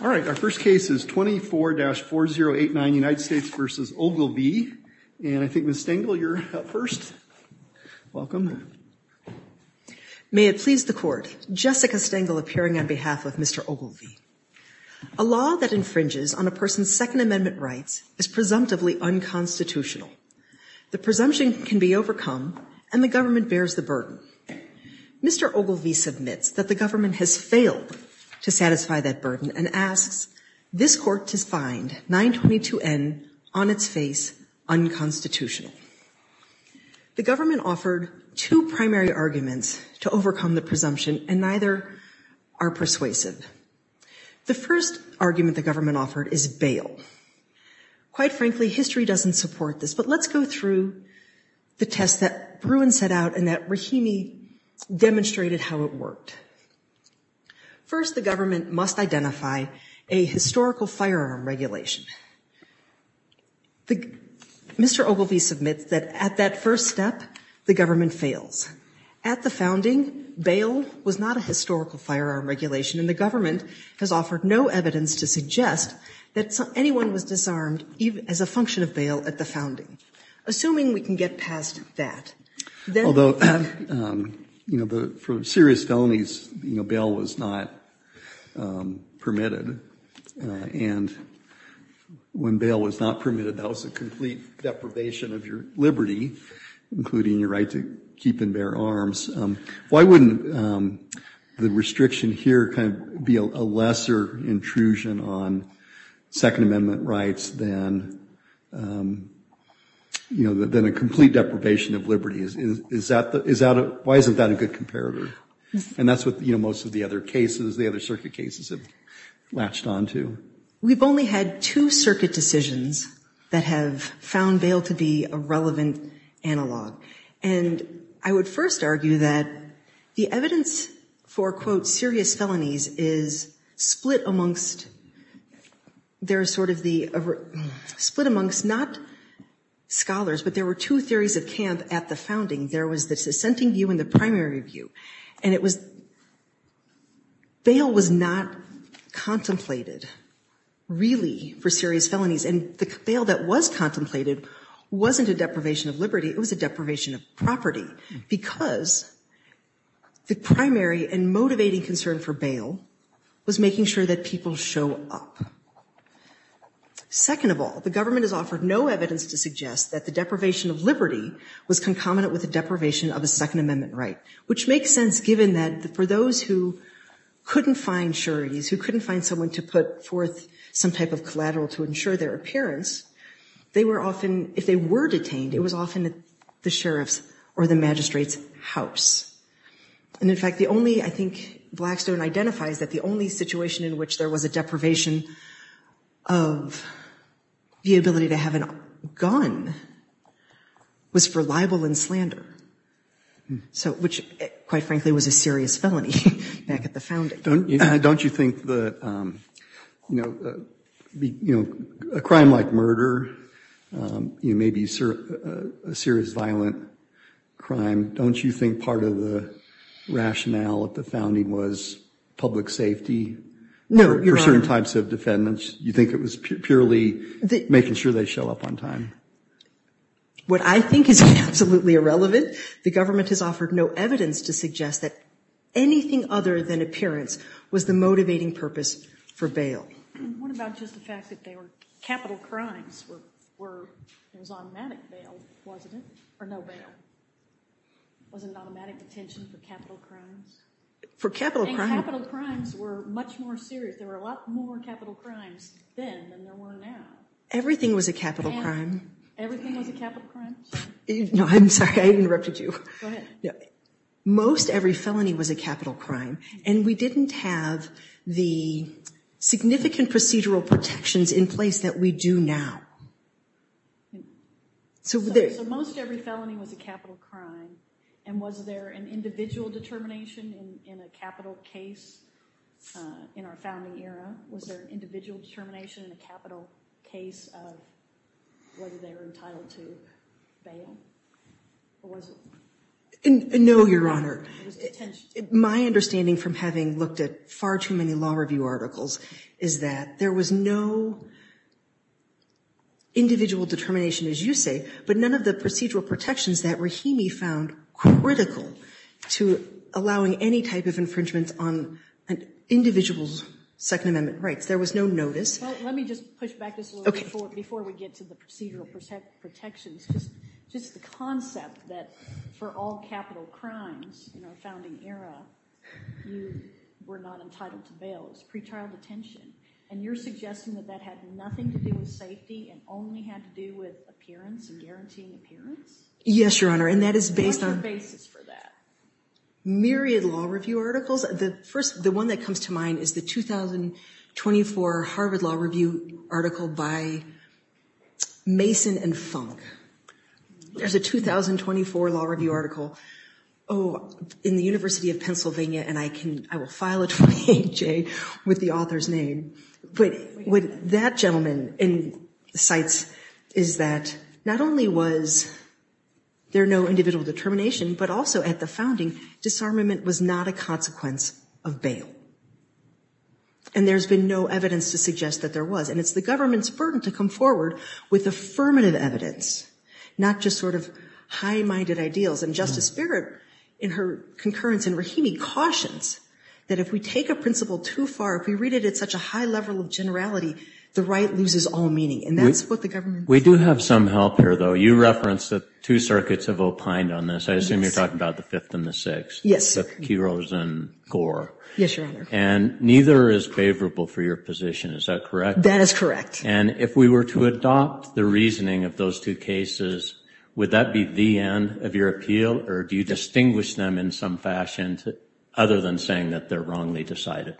All right, our first case is 24-4089 United States v. Ogilvie, and I think Ms. Stengel, you're up first. Welcome. May it please the Court, Jessica Stengel appearing on behalf of Mr. Ogilvie. A law that infringes on a person's Second Amendment rights is presumptively unconstitutional. The presumption can be overcome, and the government bears the burden. Mr. Ogilvie submits that the government has failed to satisfy that burden and asks this Court to find 922N on its face unconstitutional. The government offered two primary arguments to overcome the presumption, and neither are persuasive. The first argument the government offered is bail. Quite frankly, history doesn't support this, but let's go through the tests that Bruin set out and that Rahimi demonstrated how it worked. First, the government must identify a historical firearm regulation. Mr. Ogilvie submits that at that first step, the government fails. At the founding, bail was not a historical firearm regulation, and the government has offered no evidence to suggest that anyone was disarmed as a function of bail at the founding. Assuming we can get past that. Although for serious felonies, bail was not permitted, and when bail was not permitted, that was a complete deprivation of your liberty, including your right to keep and bear arms. Why wouldn't the restriction here be a lesser intrusion on Second Amendment rights than a complete deprivation of liberty? Why isn't that a good comparator? And that's what most of the other cases, the other circuit cases, have latched onto. We've only had two circuit decisions that have found bail to be a relevant analog. And I would first argue that the evidence for, quote, serious felonies is split amongst, there's sort of the, split amongst not scholars, but there were two theories of camp at the founding. There was the dissenting view and the primary view. And it was, bail was not contemplated, really, for serious felonies. And the bail that was contemplated wasn't a deprivation of liberty, it was a deprivation of property. Because the primary and motivating concern for bail was making sure that people show up. Second of all, the government has offered no evidence to suggest that the deprivation of liberty was concomitant with the deprivation of a Second Amendment right. Which makes sense, given that for those who couldn't find sureties, who couldn't find someone to put forth some type of collateral to ensure their appearance, they were often, if they were detained, it was often at the sheriff's or the magistrate's house. And in fact, the only, I think Blackstone identifies that the only situation in which there was a deprivation of the ability to have a gun was for libel and slander. So, which, quite frankly, was a serious felony back at the founding. Don't you think that, you know, a crime like murder, maybe a serious violent crime, don't you think part of the rationale at the founding was public safety? No, Your Honor. For certain types of defendants, you think it was purely making sure they show up on time? What I think is absolutely irrelevant, the government has offered no evidence to suggest that anything other than appearance was the motivating purpose for bail. What about just the fact that they were capital crimes? There was automatic bail, wasn't it? Or no bail? Wasn't it automatic detention for capital crimes? For capital crimes? And capital crimes were much more serious. There were a lot more capital crimes then than there were now. Everything was a capital crime. Everything was a capital crime? No, I'm sorry, I interrupted you. Go ahead. Most every felony was a capital crime, and we didn't have the significant procedural protections in place that we do now. So most every felony was a capital crime, and was there an individual determination in a capital case in our founding era? Was there an individual determination in a capital case of whether they were entitled to bail? Or was it? No, Your Honor. It was detention. My understanding from having looked at far too many law review articles is that there was no individual determination, as you say, but none of the procedural protections that Rahimi found critical to allowing any type of infringement on an individual's Second Amendment rights. There was no notice. Let me just push back this a little bit before we get to the procedural protections. Just the concept that for all capital crimes in our founding era, you were not entitled to bail. It was pretrial detention. And you're suggesting that that had nothing to do with safety and only had to do with appearance and guaranteeing appearance? Yes, Your Honor, and that is based on… What's the basis for that? Myriad law review articles. The first, the one that comes to mind is the 2024 Harvard Law Review article by Mason and Funk. There's a 2024 law review article in the University of Pennsylvania, and I will file it for the AHA with the author's name. What that gentleman cites is that not only was there no individual determination, but also at the founding, disarmament was not a consequence of bail. And there's been no evidence to suggest that there was. And it's the government's burden to come forward with affirmative evidence, not just sort of high-minded ideals. And Justice Barrett, in her concurrence in Rahimi, cautions that if we take a principle too far, if we read it at such a high level of generality, the right loses all meaning. And that's what the government… We do have some help here, though. You referenced that two circuits have opined on this. I assume you're talking about the Fifth and the Sixth. Yes. The Kerosene Corps. Yes, Your Honor. And neither is favorable for your position. Is that correct? That is correct. And if we were to adopt the reasoning of those two cases, would that be the end of your appeal, or do you distinguish them in some fashion other than saying that they're wrongly decided?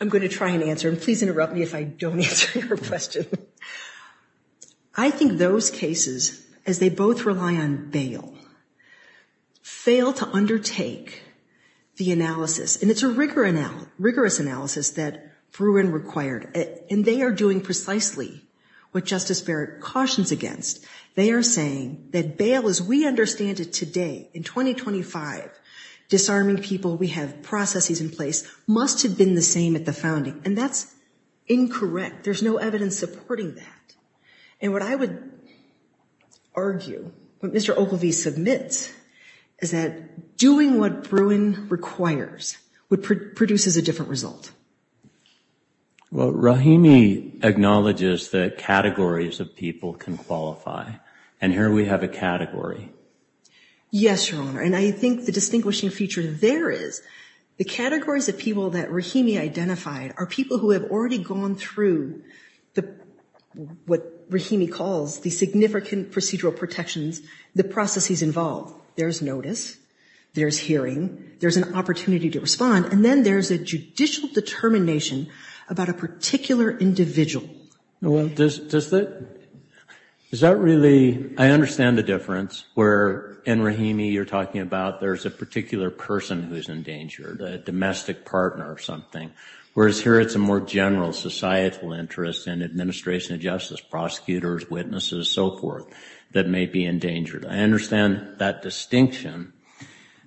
I'm going to try and answer, and please interrupt me if I don't answer your question. I think those cases, as they both rely on bail, fail to undertake the analysis. And it's a rigorous analysis that Bruin required. And they are doing precisely what Justice Barrett cautions against. They are saying that bail, as we understand it today, in 2025, disarming people, we have processes in place, must have been the same at the founding. And that's incorrect. There's no evidence supporting that. And what I would argue, what Mr. Ogilvie submits, is that doing what Bruin requires produces a different result. Well, Rahimi acknowledges that categories of people can qualify. And here we have a category. Yes, Your Honor. And I think the distinguishing feature there is the categories of people that Rahimi identified are people who have already gone through what Rahimi calls the significant procedural protections, the processes involved. There's notice. There's hearing. There's an opportunity to respond. And then there's a judicial determination about a particular individual. Well, does that, is that really, I understand the difference where in Rahimi you're talking about there's a particular person who's endangered, a domestic partner or something. Whereas here it's a more general societal interest and administration of justice, prosecutors, witnesses, so forth, that may be endangered. I understand that distinction.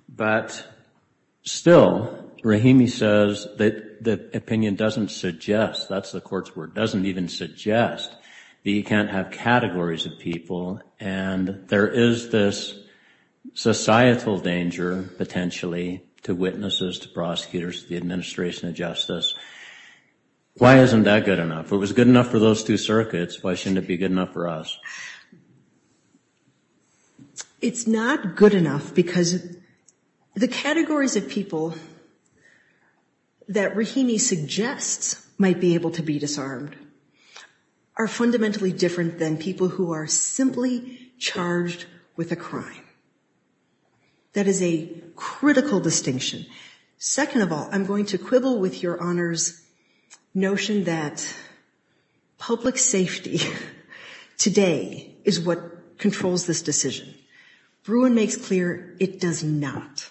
But still, Rahimi says that the opinion doesn't suggest, that's the court's word, doesn't even suggest that you can't have categories of people. And there is this societal danger, potentially, to witnesses, to prosecutors, to the administration of justice. Why isn't that good enough? If it was good enough for those two circuits, why shouldn't it be good enough for us? It's not good enough because the categories of people that Rahimi suggests might be able to be disarmed are fundamentally different than people who are simply charged with a crime. That is a critical distinction. Second of all, I'm going to quibble with your Honor's notion that public safety today is what controls this decision. Bruin makes clear it does not.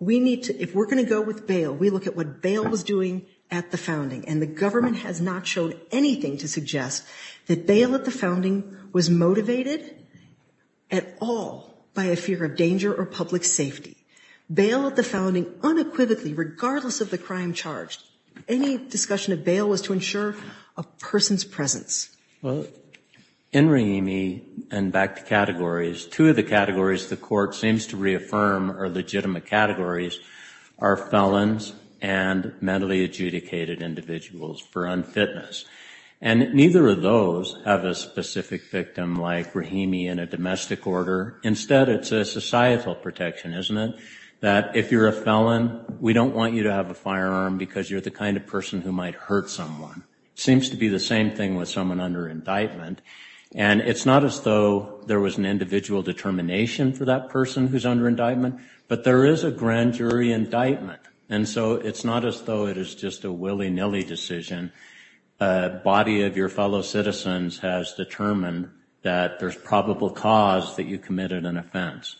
We need to, if we're going to go with bail, we look at what bail was doing at the founding. And the government has not shown anything to suggest that bail at the founding was motivated at all by a fear of danger or public safety. Bail at the founding unequivocally, regardless of the crime charged. Any discussion of bail was to ensure a person's presence. Well, in Rahimi, and back to categories, two of the categories the court seems to reaffirm are legitimate categories are felons and mentally adjudicated individuals for unfitness. And neither of those have a specific victim like Rahimi in a domestic order. Instead, it's a societal protection, isn't it? That if you're a felon, we don't want you to have a firearm because you're the kind of person who might hurt someone. Seems to be the same thing with someone under indictment. And it's not as though there was an individual determination for that person who's under indictment, but there is a grand jury indictment. And so it's not as though it is just a willy-nilly decision. A body of your fellow citizens has determined that there's probable cause that you committed an offense.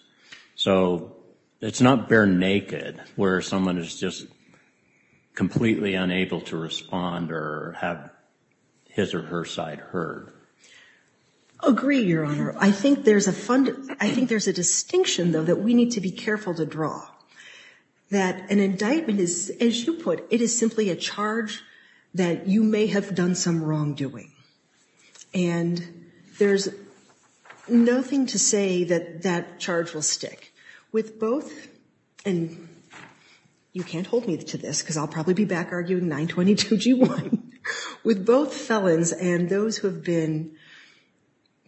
So it's not bare naked where someone is just completely unable to respond or have his or her side heard. I agree, Your Honor. I think there's a distinction, though, that we need to be careful to draw. That an indictment is, as you put, it is simply a charge that you may have done some wrongdoing. And there's nothing to say that that charge will stick. And you can't hold me to this because I'll probably be back arguing 922-G1. With both felons and those who have been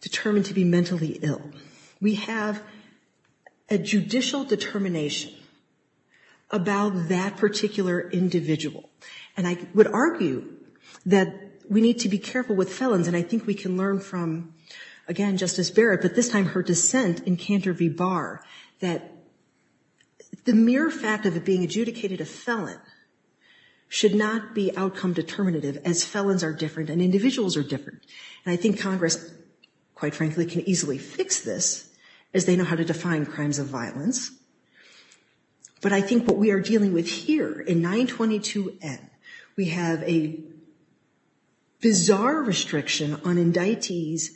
determined to be mentally ill, we have a judicial determination about that particular individual. And I would argue that we need to be careful with felons. And I think we can learn from, again, Justice Barrett, but this time her dissent in Cantor v. Barr, that the mere fact of it being adjudicated a felon should not be outcome determinative as felons are different and individuals are different. And I think Congress, quite frankly, can easily fix this as they know how to define crimes of violence. But I think what we are dealing with here in 922-N, we have a bizarre restriction on indictees'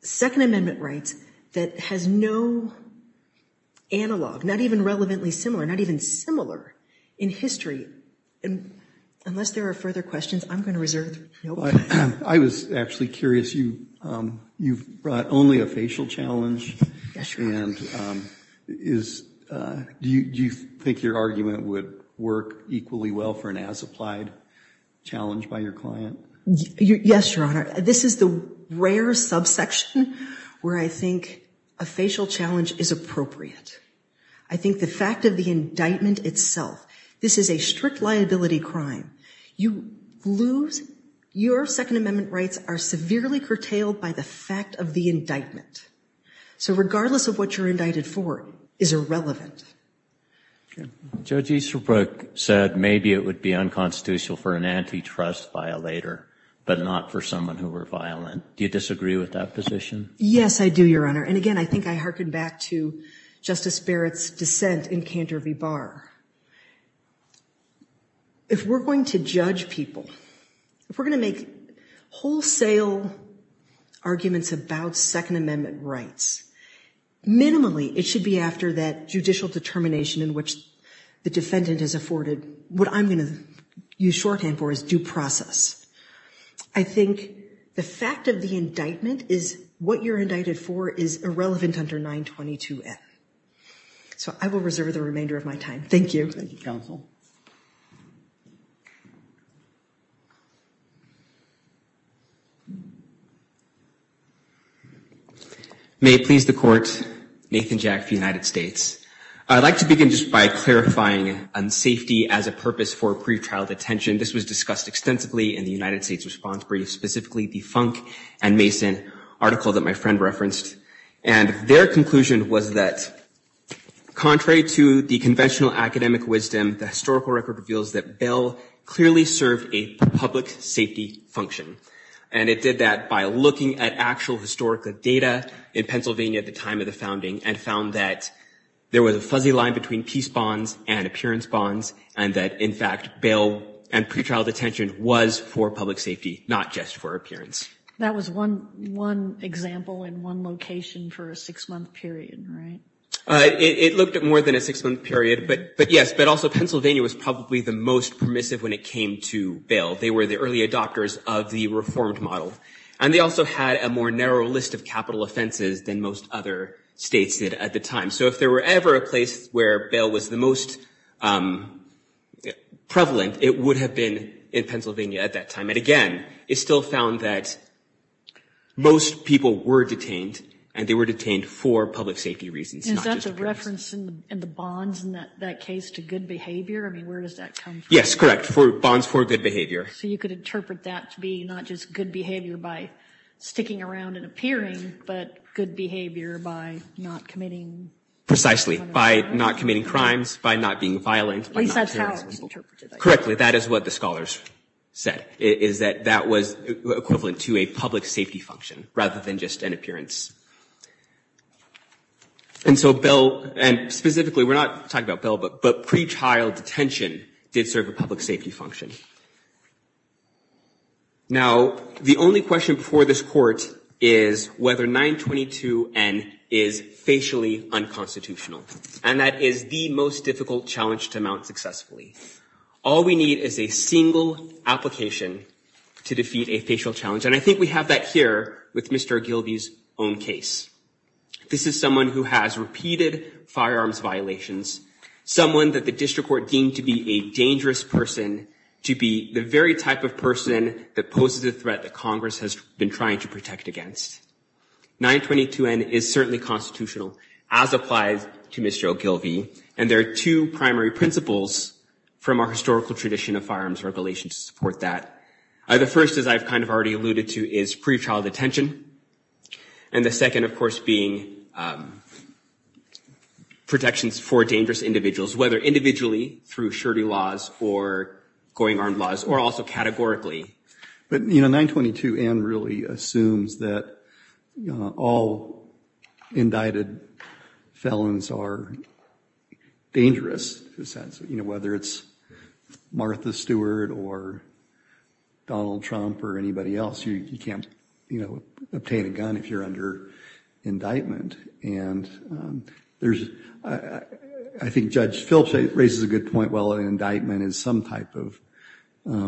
Second Amendment rights that has no analog, not even relevantly similar, not even similar in history. And unless there are further questions, I'm going to reserve the floor to you. I was actually curious. You've brought only a facial challenge. And do you think your argument would work equally well for an as-applied challenge by your client? Yes, Your Honor. This is the rare subsection where I think a facial challenge is appropriate. I think the fact of the indictment itself, this is a strict liability crime. Your Second Amendment rights are severely curtailed by the fact of the indictment. So regardless of what you're indicted for, it's irrelevant. Judge Easterbrook said maybe it would be unconstitutional for an antitrust violator, but not for someone who were violent. Do you disagree with that position? Yes, I do, Your Honor. And again, I think I hearken back to Justice Barrett's dissent in Cantor v. Barr. If we're going to judge people, if we're going to make wholesale arguments about Second Amendment rights, minimally it should be after that judicial determination in which the defendant is afforded what I'm going to use shorthand for as due process. I think the fact of the indictment is what you're indicted for is irrelevant under 922F. So I will reserve the remainder of my time. Thank you. May it please the Court, Nathan Jack for the United States. I'd like to begin just by clarifying on safety as a purpose for pretrial detention. This was discussed extensively in the United States response brief, specifically the Funk and Mason article that my friend referenced. And their conclusion was that contrary to the conventional academic wisdom, the historical record reveals that bail clearly served a public safety function. And it did that by looking at actual historical data in Pennsylvania at the time of the founding and found that there was a fuzzy line between peace bonds and appearance bonds, and that, in fact, bail and pretrial detention was for public safety, not just for appearance. That was one example in one location for a six-month period, right? It looked at more than a six-month period. But yes, but also Pennsylvania was probably the most permissive when it came to bail. They were the early adopters of the reformed model. And they also had a more narrow list of capital offenses than most other states did at the time. So if there were ever a place where bail was the most prevalent, it would have been in Pennsylvania at that time. And, again, it still found that most people were detained, and they were detained for public safety reasons, not just appearance. Is that the reference in the bonds in that case to good behavior? I mean, where does that come from? Yes, correct, for bonds for good behavior. So you could interpret that to be not just good behavior by sticking around and appearing, but good behavior by not committing. Precisely, by not committing crimes, by not being violent. At least that's how it's interpreted. Correctly, that is what the scholars said, is that that was equivalent to a public safety function rather than just an appearance. And so bail, and specifically we're not talking about bail, but pretrial detention did serve a public safety function. Now, the only question before this court is whether 922N is facially unconstitutional, and that is the most difficult challenge to mount successfully. All we need is a single application to defeat a facial challenge, and I think we have that here with Mr. Gilbey's own case. This is someone who has repeated firearms violations, someone that the district court deemed to be a dangerous person, to be the very type of person that poses a threat that Congress has been trying to protect against. 922N is certainly constitutional, as applied to Mr. Gilbey, and there are two primary principles from our historical tradition of firearms regulations to support that. The first, as I've kind of already alluded to, is pretrial detention, and the second, of course, being protections for dangerous individuals, whether individually, through surety laws, or going armed laws, or also categorically. But, you know, 922N really assumes that all indicted felons are dangerous, in a sense. You know, whether it's Martha Stewart or Donald Trump or anybody else, you can't, you know, obtain a gun if you're under indictment. And there's, I think Judge Phillips raises a good point, well, an indictment is some type of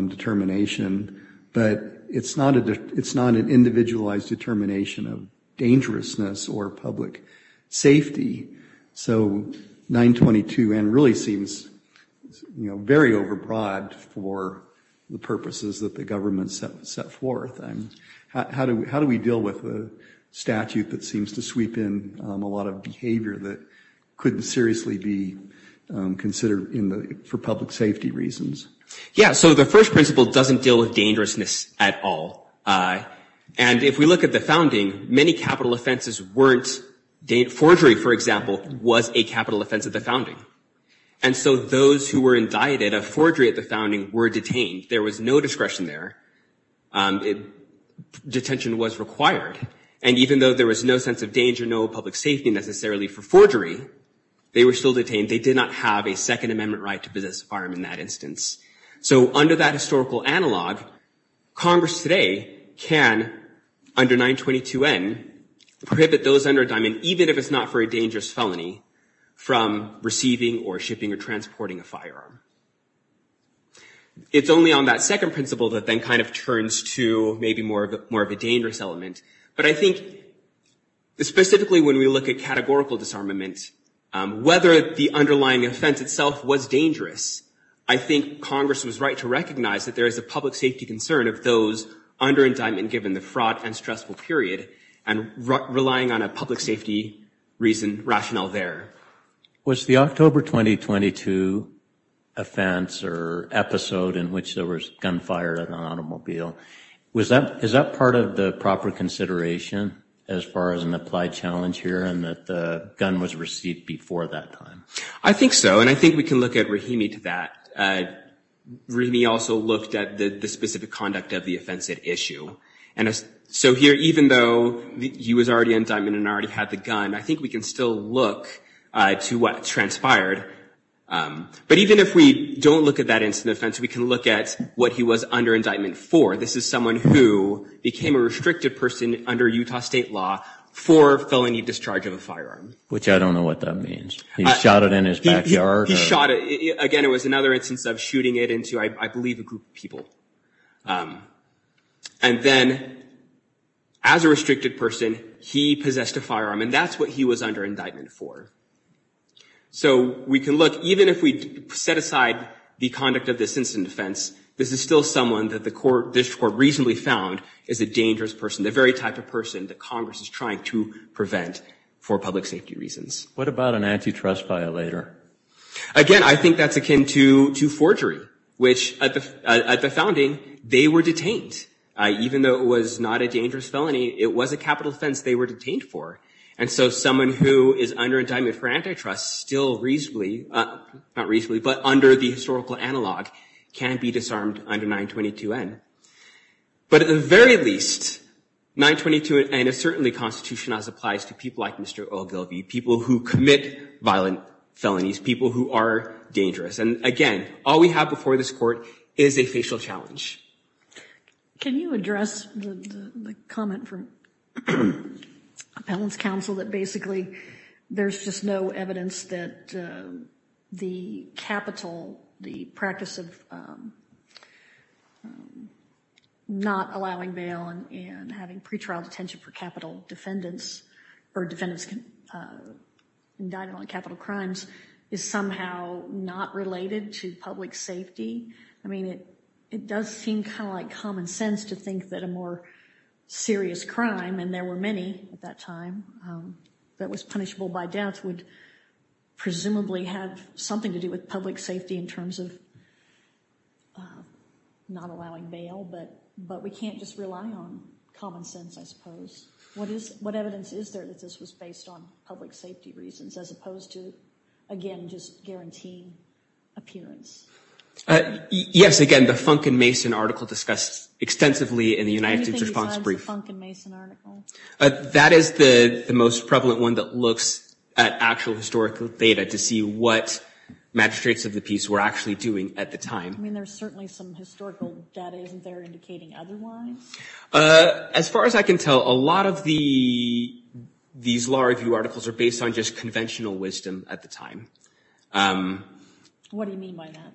determination, but it's not an individualized determination of dangerousness or public safety. So 922N really seems, you know, very overbroad for the purposes that the government set forth. How do we deal with a statute that seems to sweep in a lot of behavior that couldn't seriously be considered for public safety reasons? Yeah, so the first principle doesn't deal with dangerousness at all. And if we look at the founding, many capital offenses weren't, forgery, for example, was a capital offense at the founding. And so those who were indicted of forgery at the founding were detained. There was no discretion there. Detention was required. And even though there was no sense of danger, no public safety necessarily for forgery, they were still detained. They did not have a Second Amendment right to possess a firearm in that instance. So under that historical analog, Congress today can, under 922N, prohibit those under a diamond, even if it's not for a dangerous felony, from receiving or shipping or transporting a firearm. It's only on that second principle that then kind of turns to maybe more of a dangerous element. But I think specifically when we look at categorical disarmament, whether the underlying offense itself was dangerous, I think Congress was right to recognize that there is a public safety concern of those under indictment given the fraud and stressful period and relying on a public safety reason rationale there. Was the October 2022 offense or episode in which there was gunfire at an automobile, was that, is that part of the proper consideration as far as an applied challenge here and that the gun was received before that time? I think so. And I think we can look at Rahimi to that. Rahimi also looked at the specific conduct of the offense at issue. And so here, even though he was already in indictment and already had the gun, I think we can still look to what transpired. But even if we don't look at that incident offense, we can look at what he was under indictment for. This is someone who became a restricted person under Utah state law for felony discharge of a firearm. Which I don't know what that means. He shot it in his backyard? He shot it. Again, it was another instance of shooting it into, I believe, a group of people. And then, as a restricted person, he possessed a firearm. And that's what he was under indictment for. So we can look, even if we set aside the conduct of this incident offense, this is still someone that this court reasonably found is a dangerous person, the very type of person that Congress is trying to prevent for public safety reasons. What about an antitrust violator? Again, I think that's akin to forgery, which at the founding, they were detained. Even though it was not a dangerous felony, it was a capital offense they were detained for. And so someone who is under indictment for antitrust still reasonably, not reasonably, but under the historical analog can be disarmed under 922N. But at the very least, 922N is certainly constitutional as applies to people like Mr. Ogilvie, people who commit violent felonies, people who are dangerous. And again, all we have before this court is a facial challenge. Can you address the comment from Appellant's counsel that basically there's just no evidence that the capital, the practice of not allowing bail and having pretrial detention for capital defendants or defendants indicted on capital crimes is somehow not related to public safety? I mean, it does seem kind of like common sense to think that a more serious crime, and there were many at that time that was punishable by death, would presumably have something to do with public safety in terms of not allowing bail. But we can't just rely on common sense, I suppose. What evidence is there that this was based on public safety reasons as opposed to, again, just guaranteeing appearance? Yes, again, the Funk and Mason article discussed extensively in the United States response brief. Anything besides the Funk and Mason article? That is the most prevalent one that looks at actual historical data to see what magistrates of the peace were actually doing at the time. I mean, there's certainly some historical data, isn't there, indicating otherwise? As far as I can tell, a lot of these law review articles are based on just conventional wisdom at the time. What do you mean by that?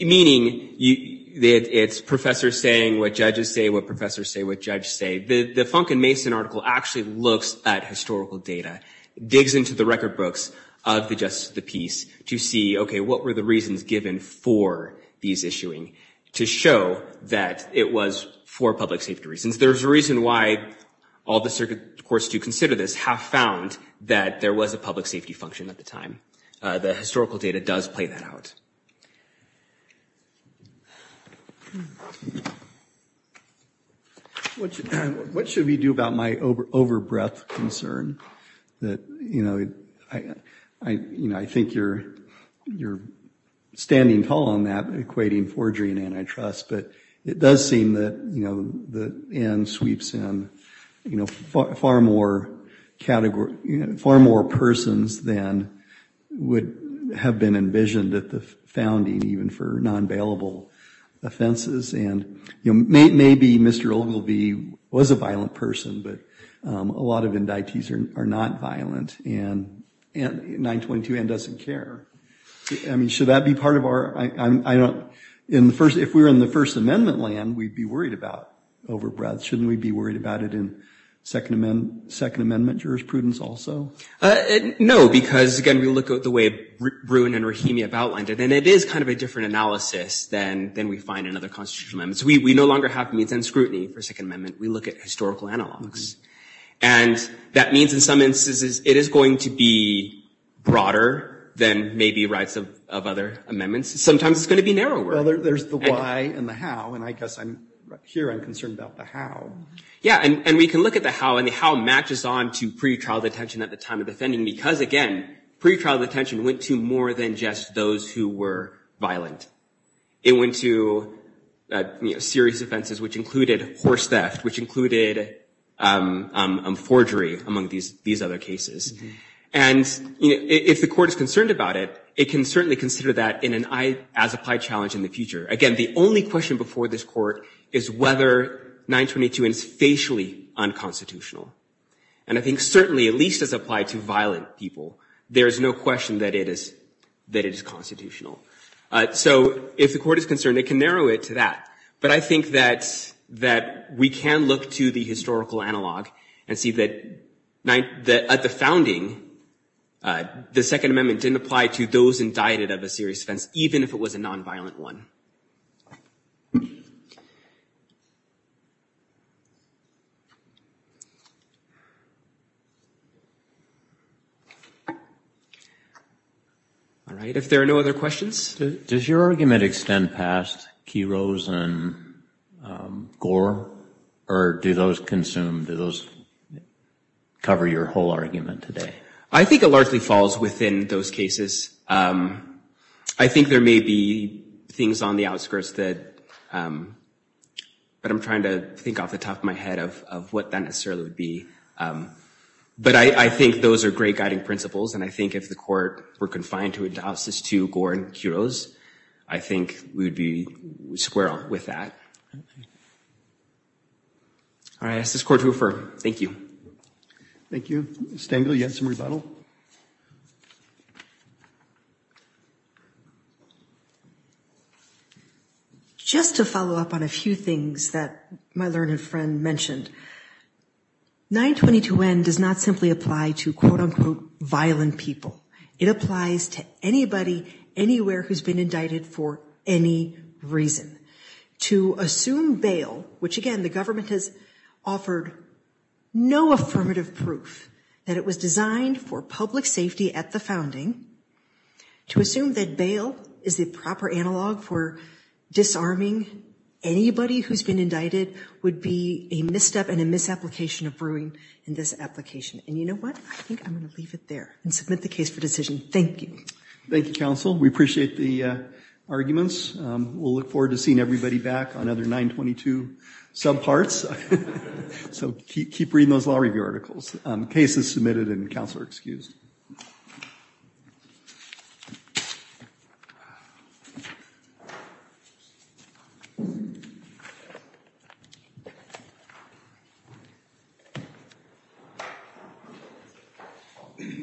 Meaning it's professors saying what judges say, what professors say what judges say. The Funk and Mason article actually looks at historical data, digs into the record books of the justice of the peace to see, okay, what were the reasons given for these issuing to show that it was for public safety reasons? There's a reason why all the circuit courts to consider this have found that there was a public safety function at the time. The historical data does play that out. What should we do about my over-breath concern? I think you're standing tall on that, equating forgery and antitrust, but it does seem that Ann sweeps in far more persons than would have been envisioned at the founding, even for non-bailable offenses. Maybe Mr. Ogilvie was a violent person, but a lot of indictees are not violent, and 922 Ann doesn't care. Should that be part of our, if we were in the First Amendment land, we'd be worried about over-breath. Shouldn't we be worried about it in Second Amendment jurisprudence also? No, because again, we look at the way Bruin and Rahimi have outlined it, and it is kind of a different analysis than we find in other constitutional amendments. We no longer have means and scrutiny for Second Amendment. We look at historical analogs. And that means in some instances it is going to be broader than maybe rights of other amendments. Sometimes it's going to be narrower. Well, there's the why and the how, and I guess here I'm concerned about the how. Yeah, and we can look at the how, and the how matches on to pretrial detention at the time of the founding, because again, pretrial detention went to more than just those who were violent. It went to serious offenses, which included horse theft, which included forgery, among these other cases. And if the court is concerned about it, it can certainly consider that as an applied challenge in the future. Again, the only question before this court is whether 922 Ann is facially unconstitutional. And I think certainly, at least as applied to violent people, there is no question that it is constitutional. So if the court is concerned, it can narrow it to that. But I think that we can look to the historical analog and see that at the founding, the Second Amendment didn't apply to those indicted of a serious offense, even if it was a nonviolent one. All right, if there are no other questions. Does your argument extend past Kiros and Gore, or do those cover your whole argument today? I think it largely falls within those cases. I think there may be things on the outskirts that, but I'm trying to think off the top of my head of what that necessarily would be. But I think those are great guiding principles, and I think if the court were confined to a doxys to Gore and Kiros, I think we would be square with that. All right, this is Court Hoofer, thank you. Thank you. Stengel, you had some rebuttal? Just to follow up on a few things that my learned friend mentioned. 922N does not simply apply to, quote unquote, violent people. It applies to anybody, anywhere who's been indicted for any reason. To assume bail, which again, the government has offered no affirmative proof that it was designed for public safety at the founding. To assume that bail is the proper analog for disarming anybody who's been indicted would be a misstep and a misapplication of brewing in this application. And you know what? I think I'm going to leave it there and submit the case for decision. Thank you. Thank you, Counsel. We appreciate the arguments. We'll look forward to seeing everybody back on other 922 subparts. So keep reading those law review articles. Cases submitted and Counselor excused. Thank you.